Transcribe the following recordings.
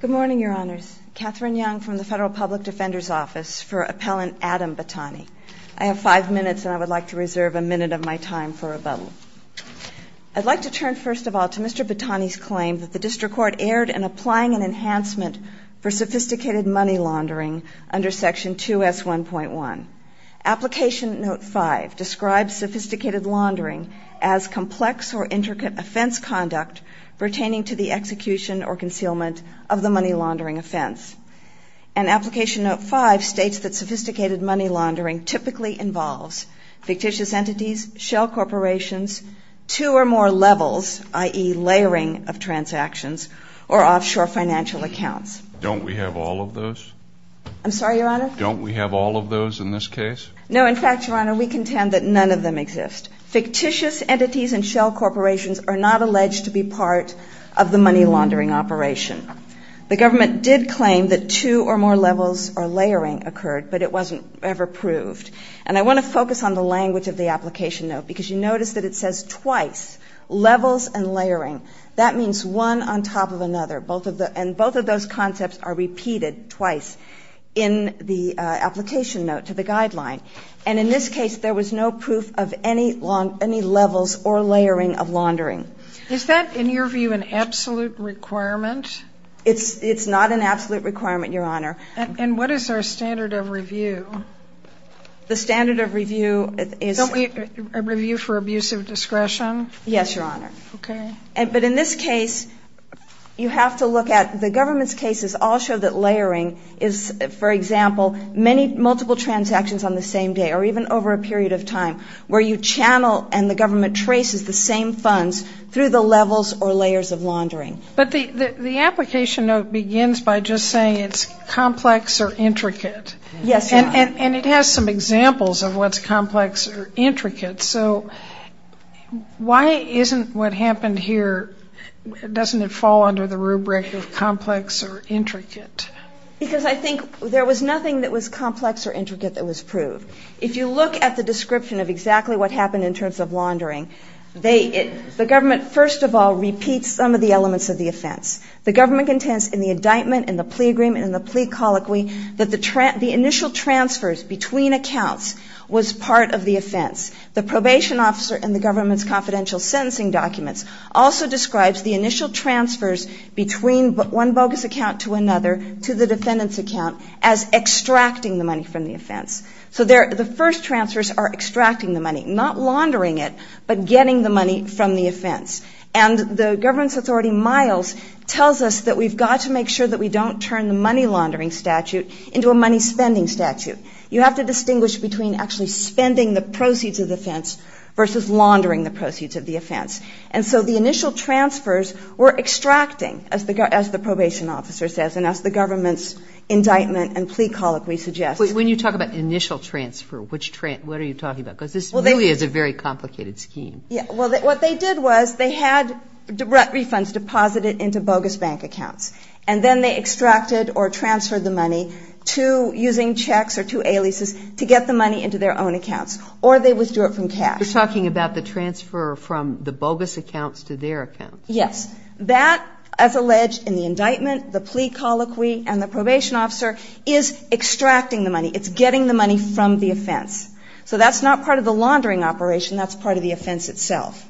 Good morning, Your Honors. Katherine Young from the Federal Public Defender's Office for Appellant Adam Battani. I have five minutes and I would like to reserve a minute of my time for rebuttal. I'd like to turn first of all to Mr. Battani's claim that the District Court erred in applying an enhancement for sophisticated money laundering under Section 2S1.1. Application Note 5 describes sophisticated laundering as complex or intricate offense conduct pertaining to the execution or concealment of the money laundering offense. And Application Note 5 states that sophisticated money laundering typically involves fictitious entities, shell corporations, two or more levels, i.e. layering of transactions, or offshore financial accounts. Don't we have all of those? I'm sorry, Your Honor? Don't we have all of those in this case? No, in fact, Your Honor, we contend that none of them exist. Fictitious entities and shell corporations are not alleged to be part of the money laundering operation. The government did claim that two or more levels or layering occurred, but it wasn't ever proved. And I want to focus on the language of the Application Note, because you notice that it says twice, levels and layering. That means one on top of another. Both of the – and both of those concepts are repeated twice in the Application Note to the Guideline. And in this case, there was no proof of any levels or layering of laundering. Is that, in your view, an absolute requirement? It's not an absolute requirement, Your Honor. And what is our standard of review? The standard of review is – Don't we review for abuse of discretion? Yes, Your Honor. Okay. But in this case, you have to look at – the government's cases all show that layering is, for example, many multiple transactions on the same day, or even over a period of time, where you channel and the government traces the same funds through the levels or layers of laundering. But the Application Note begins by just saying it's complex or intricate. Yes, Your Honor. And it has some examples of what's complex or intricate. So why isn't what happened here – doesn't it fall under the rubric of complex or intricate? Because I think there was nothing that was complex or intricate that was proved. If you look at the description of exactly what happened in terms of laundering, they – the government, first of all, repeats some of the elements of the offense. The government contends in the indictment, in the plea agreement, in the plea colloquy, that the initial transfers between accounts was part of the offense. The probation officer in the government's confidential sentencing documents also describes the initial transfers between one bogus account to another to the defendant's account as extracting the money from the offense. So they're – the first transfers are extracting the money, not laundering it, but getting the money from the offense. And the government's authority, Miles, tells us that we've got to make sure that we don't turn the money laundering statute into a money spending statute. You have to distinguish between actually spending the proceeds of the offense versus laundering the proceeds of the offense. And so the initial transfers were extracting, as the – as the probation officer says, and as the government's indictment and plea colloquy suggests. But when you talk about initial transfer, which – what are you talking about? Because this really is a very complicated scheme. Yeah. Well, what they did was they had direct refunds deposited into bogus bank accounts. And then they extracted or transferred the money to – using checks or to A-leases to get the money into their own accounts. Or they withdrew it from cash. You're talking about the transfer from the bogus accounts to their accounts. Yes. That, as alleged in the indictment, the plea colloquy, and the probation officer, is extracting the money. It's getting the money from the offense. So that's not part of the laundering operation. That's part of the offense itself.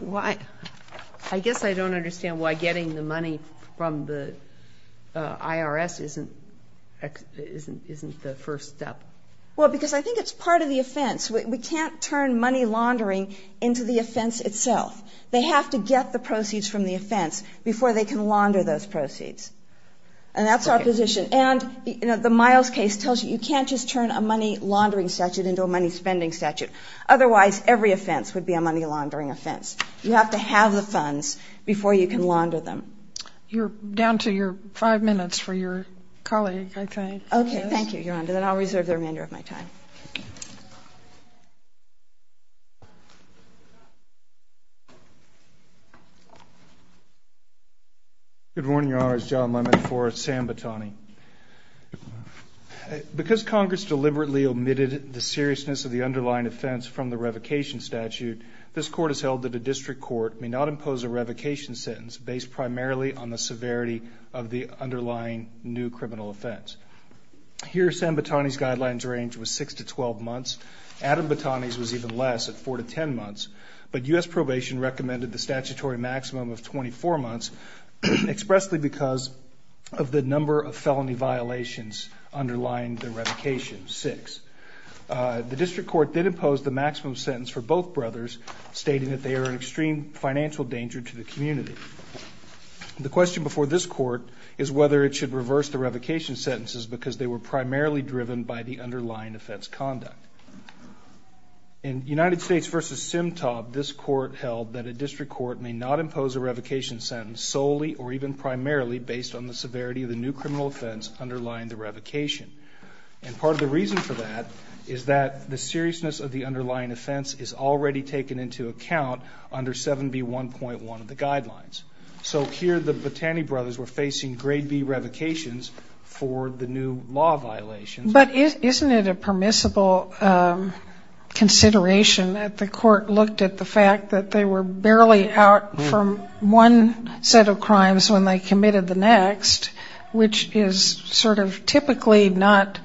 Well, I – I guess I don't understand why getting the money from the IRS isn't – isn't the first step. Well, because I think it's part of the offense. We can't turn money laundering into the offense itself. They have to get the proceeds from the offense before they can launder those proceeds. And that's our position. And, you know, the Miles case tells you you can't just turn a money laundering statute into a money spending statute. Otherwise, every offense would be a money laundering offense. You have to have the funds before you can launder them. You're down to your five minutes for your colleague, I think. Okay. Thank you, Your Honor. Then I'll reserve the remainder of my time. Good morning, Your Honor. It's John Lemmon for San Botani. Because Congress deliberately omitted the seriousness of the underlying offense from the revocation statute, this Court has held that a district court may not impose a revocation sentence based primarily on the severity of the underlying new criminal offense. Here, San Botani's guidelines range was 6 to 12 months. Adam Botani's was even less at 4 to 10 months. But U.S. Probation recommended the statutory maximum of 24 months expressly because of the number of felony violations underlying the revocation, 6. The district court did impose the maximum sentence for both brothers, stating that they are an extreme financial danger to the community. The question before this Court is whether it should reverse the revocation sentences because they were primarily driven by the underlying offense conduct. In United States v. Simtob, this Court held that a district court may not impose a revocation sentence solely or even primarily based on the severity of the new criminal offense underlying the revocation. And part of the reason for that is that the seriousness of the underlying offense is already taken into account under 7B1.1 of the guidelines. So here the Botani brothers were facing grade B revocations for the new law violations. But isn't it a permissible consideration that the Court looked at the fact that they were barely out from one set of crimes when they committed the next, which is sort of typically not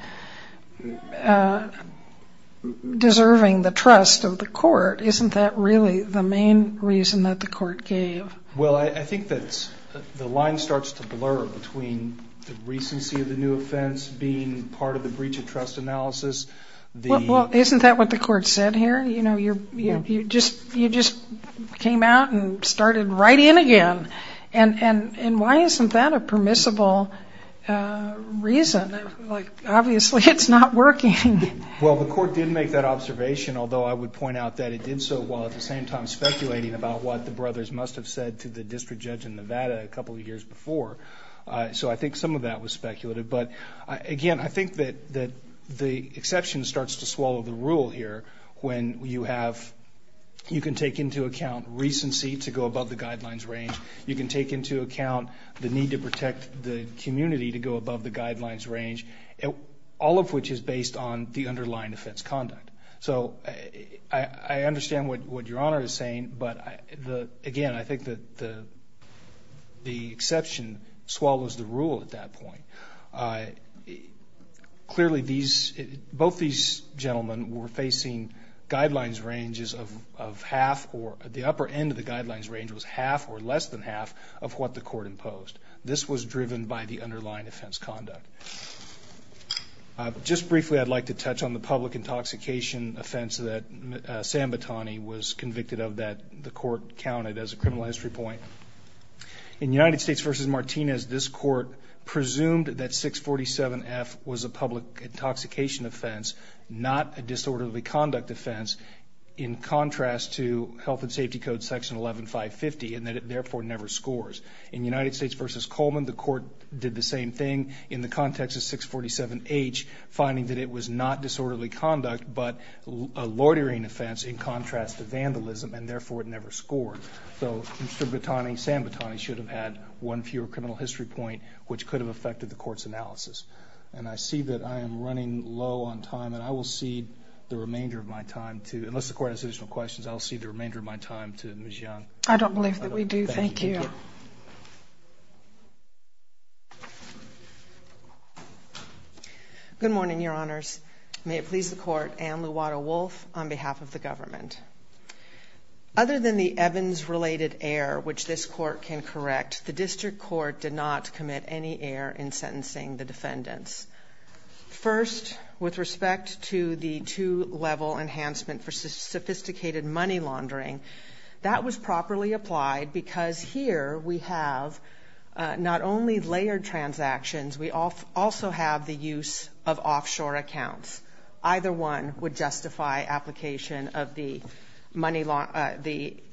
deserving the trust of the Court? Isn't that really the main reason that the Court gave? Well, I think that the line starts to blur between the recency of the new offense being part of the breach of trust analysis. Well, isn't that what the Court said here? You just came out and started right in again. And why isn't that a permissible reason? Like obviously it's not working. Well, the Court did make that observation, although I would have said to the district judge in Nevada a couple of years before. So I think some of that was speculative. But again, I think that the exception starts to swallow the rule here when you have, you can take into account recency to go above the guidelines range. You can take into account the need to protect the community to go above the guidelines range, all of which is based on the underlying offense conduct. So I understand what Your Honor is saying. I think that the exception swallows the rule at that point. Clearly, both these gentlemen were facing guidelines ranges of half or the upper end of the guidelines range was half or less than half of what the Court imposed. This was driven by the underlying offense conduct. Just briefly, I'd like to touch on the public intoxication offense that Sam Batani was convicted of that the Court counted as a criminal history point. In United States v. Martinez, this Court presumed that 647F was a public intoxication offense, not a disorderly conduct offense, in contrast to Health and Safety Code section 11-550 and that it therefore never scores. In United States v. Coleman, the Court did the same thing in the context of 647H, finding that it was not disorderly conduct, but a loitering offense in contrast to vandalism and therefore it never scored. So Mr. Batani, Sam Batani should have had one fewer criminal history point, which could have affected the Court's analysis. And I see that I am running low on time and I will cede the remainder of my time to, unless the Court has additional questions, I'll cede the remainder of my time to Ms. Good morning, Your Honors. May it please the Court, Anne Luwato-Wolf on behalf of the Government. Other than the Evans-related error, which this Court can correct, the District Court did not commit any error in sentencing the defendants. First, with respect to the two-level enhancement for sophisticated money laundering, that was properly applied because here we have not only layered transactions, we also have the use of offshore accounts. Either one would justify application of the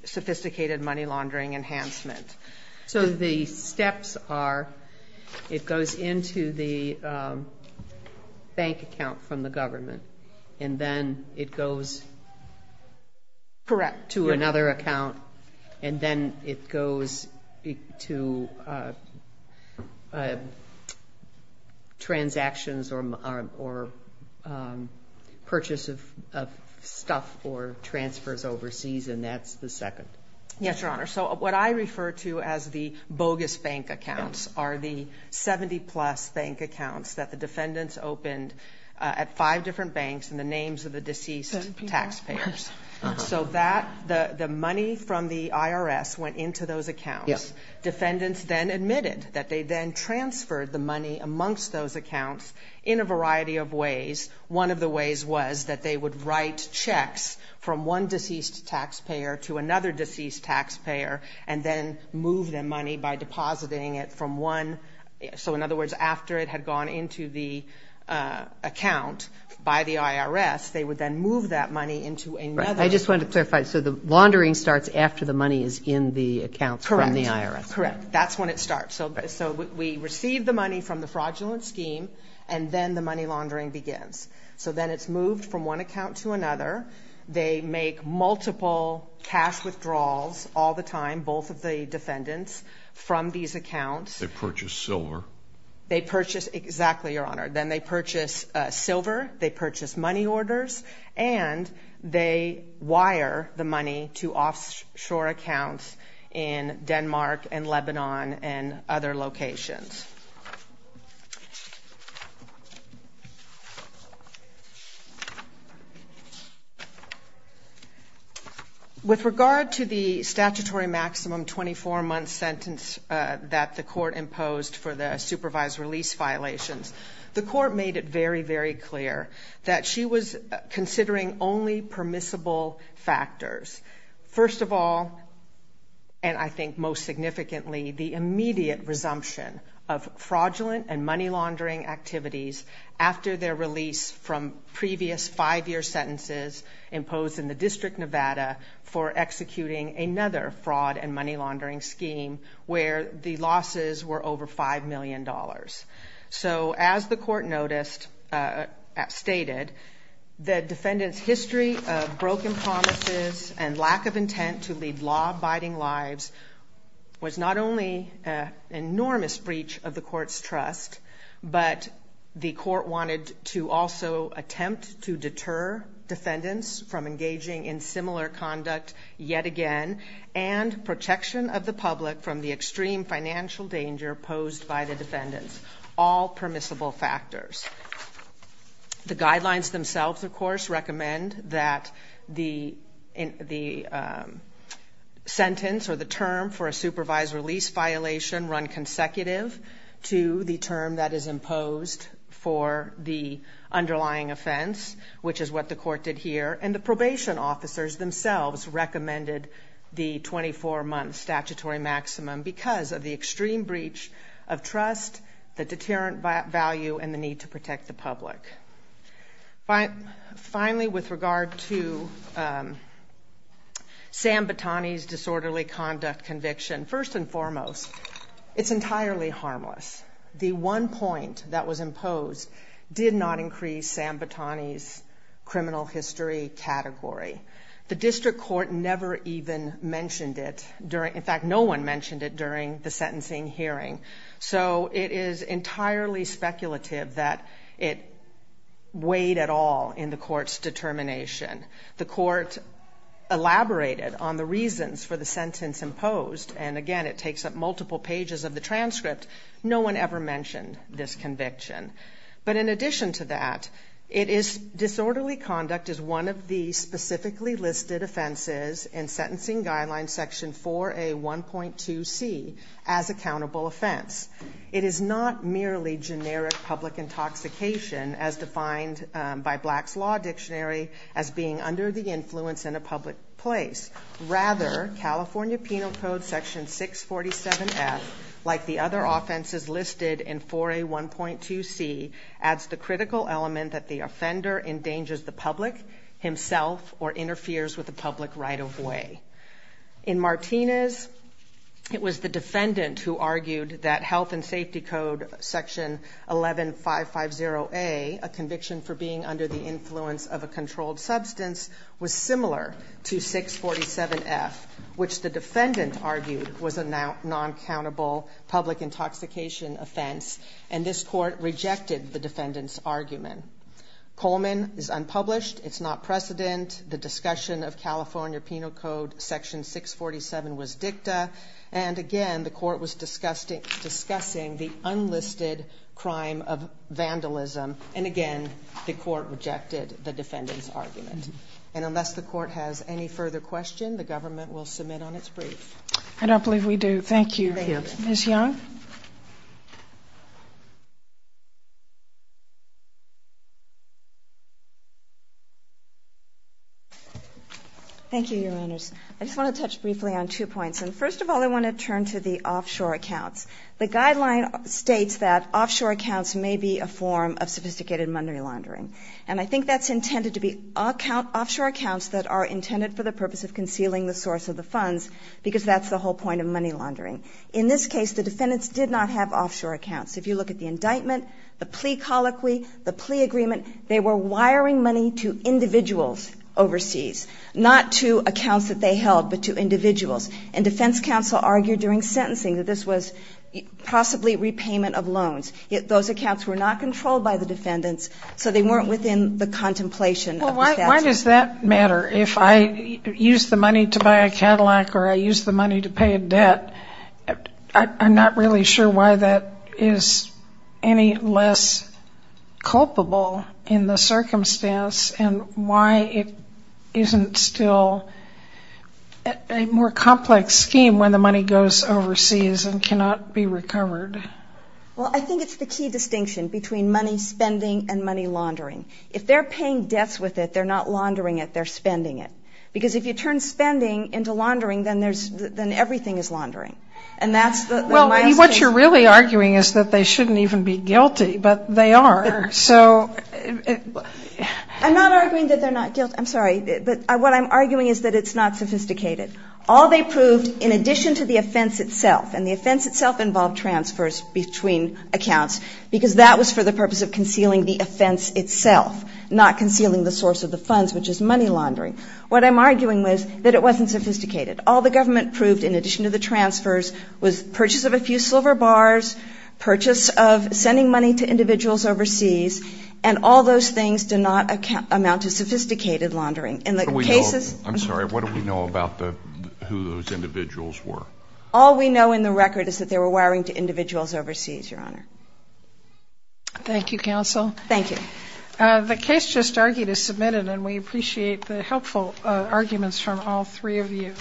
sophisticated money laundering enhancement. So the steps are, it goes into the bank account from the Government, and then it goes into another bank account, and then it goes to transactions or purchase of stuff or transfers overseas, and that's the second? Yes, Your Honor. So what I refer to as the bogus bank accounts are the 70-plus bank accounts that the defendants opened at five different banks in the names of the deceased taxpayers. So the money from the IRS went into those accounts. Defendants then admitted that they then transferred the money amongst those accounts in a variety of ways. One of the ways was that they would write checks from one deceased taxpayer to another deceased taxpayer and then move the money by depositing it from one, so in other words, the IRS, they would then move that money into another. I just wanted to clarify, so the laundering starts after the money is in the accounts from the IRS? Correct. That's when it starts. So we receive the money from the fraudulent scheme and then the money laundering begins. So then it's moved from one account to another. They make multiple cash withdrawals all the time, both of the defendants, from these accounts. They purchase silver. They purchase money orders, and they wire the money to offshore accounts in Denmark and Lebanon and other locations. With regard to the statutory maximum 24-month sentence that the court imposed for the supervised release violations, the court made it very, very clear that she was considering only permissible factors. First of all, and I think most significantly, the immediate resumption of fraudulent and money laundering activities after their release from previous five-year sentences imposed in the District of Nevada for executing another fraud and money laundering scheme where the losses were over $5 million. So as the court noticed, stated, the defendant's history of broken promises and lack of intent to lead law-abiding lives was not only an enormous breach of the court's trust, but the court wanted to also attempt to deter defendants from engaging in similar conduct yet again and protection of the public from the extreme financial danger posed by the defendants, all permissible factors. The guidelines themselves, of course, recommend that the sentence or the term for a supervised release violation run consecutive to the term that is imposed for the underlying offense, which is what the court did here. And the probation officers themselves recommended the 24-month statutory maximum because of the extreme breach of trust, the deterrent value, and the need to protect the public. Finally, with regard to Sam Batani's disorderly conduct conviction, first and foremost, it's entirely harmless. The one point that was imposed did not increase Sam Batani's criminal history category. The district court never even mentioned it during, in fact, no one mentioned it during the sentencing hearing. So it is entirely speculative that it weighed at all in the court's determination. The court elaborated on the reasons for the sentence imposed, and again, it takes up multiple pages of the transcript. No one ever mentioned this conviction. But in addition to that, it is disorderly conduct is one of the specifically listed offenses in Sentencing Guidelines Section 4A1.2C as accountable offense. It is not merely generic public intoxication as defined by Black's Law Dictionary as being under the influence in a public place. Rather, California Penal Code Section 647F, like the other offenses listed in 4A1.2C, adds the critical element that the offender endangers the public, himself, or interferes with the public right-of-way. In Martinez, it was the defendant who argued that Health and Safety Code Section 11-550A, a conviction for being under the influence of a controlled substance, was similar to the defendant argued was a non-countable public intoxication offense, and this court rejected the defendant's argument. Coleman is unpublished. It's not precedent. The discussion of California Penal Code Section 647 was dicta, and again, the court was discussing the unlisted crime of vandalism, and again, the court rejected the defendant's argument. And unless the defendant's argument is unlisted, there is no reason for the defendant to be un-published. I don't believe we do. Thank you. Ms. Young? Thank you, Your Honors. I just want to touch briefly on two points. And first of all, I want to turn to the offshore accounts. The guideline states that offshore accounts may be a form of sophisticated money laundering, and I think that's intended to be offshore accounts that are intended for the purpose of concealing the source of the funds, because that's the whole point of money laundering. In this case, the defendants did not have offshore accounts. If you look at the indictment, the plea colloquy, the plea agreement, they were wiring money to individuals overseas, not to accounts that they held, but to individuals. And defense counsel argued during sentencing that this was possibly repayment of loans. Those accounts were not controlled by the defendants, so they weren't within the contemplation of the statute. Well, why does that matter if I use the money to buy a Cadillac or I use the money to pay a debt? I'm not really sure why that is any less culpable in the circumstance, and why it isn't still a more complex scheme when the money goes overseas and cannot be recovered. Well, I think it's the key distinction between money spending and money laundering. If they're paying debts with it, they're not laundering it, they're spending it. Because if you turn spending into laundering, then everything is laundering. And that's the mild case. Well, what you're really arguing is that they shouldn't even be guilty, but they are, so. I'm not arguing that they're not guilty. I'm sorry. But what I'm arguing is that it's not sophisticated. All they proved, in addition to the offense itself, and the offense itself involved transfers between accounts, because that was for the purpose of concealing the offense itself, not concealing the source of the funds, which is money laundering. What I'm arguing is that it wasn't sophisticated. All the government proved, in addition to the transfers, was purchase of a few silver bars, purchase of sending money to individuals overseas, and all those things do not amount to sophisticated laundering. In the cases — I'm sorry. What do we know about who those individuals were? All we know in the record is that they were wiring to individuals overseas, Your Honor. Thank you, Counsel. Thank you. The case just argued is submitted, and we appreciate the helpful arguments from all three of you.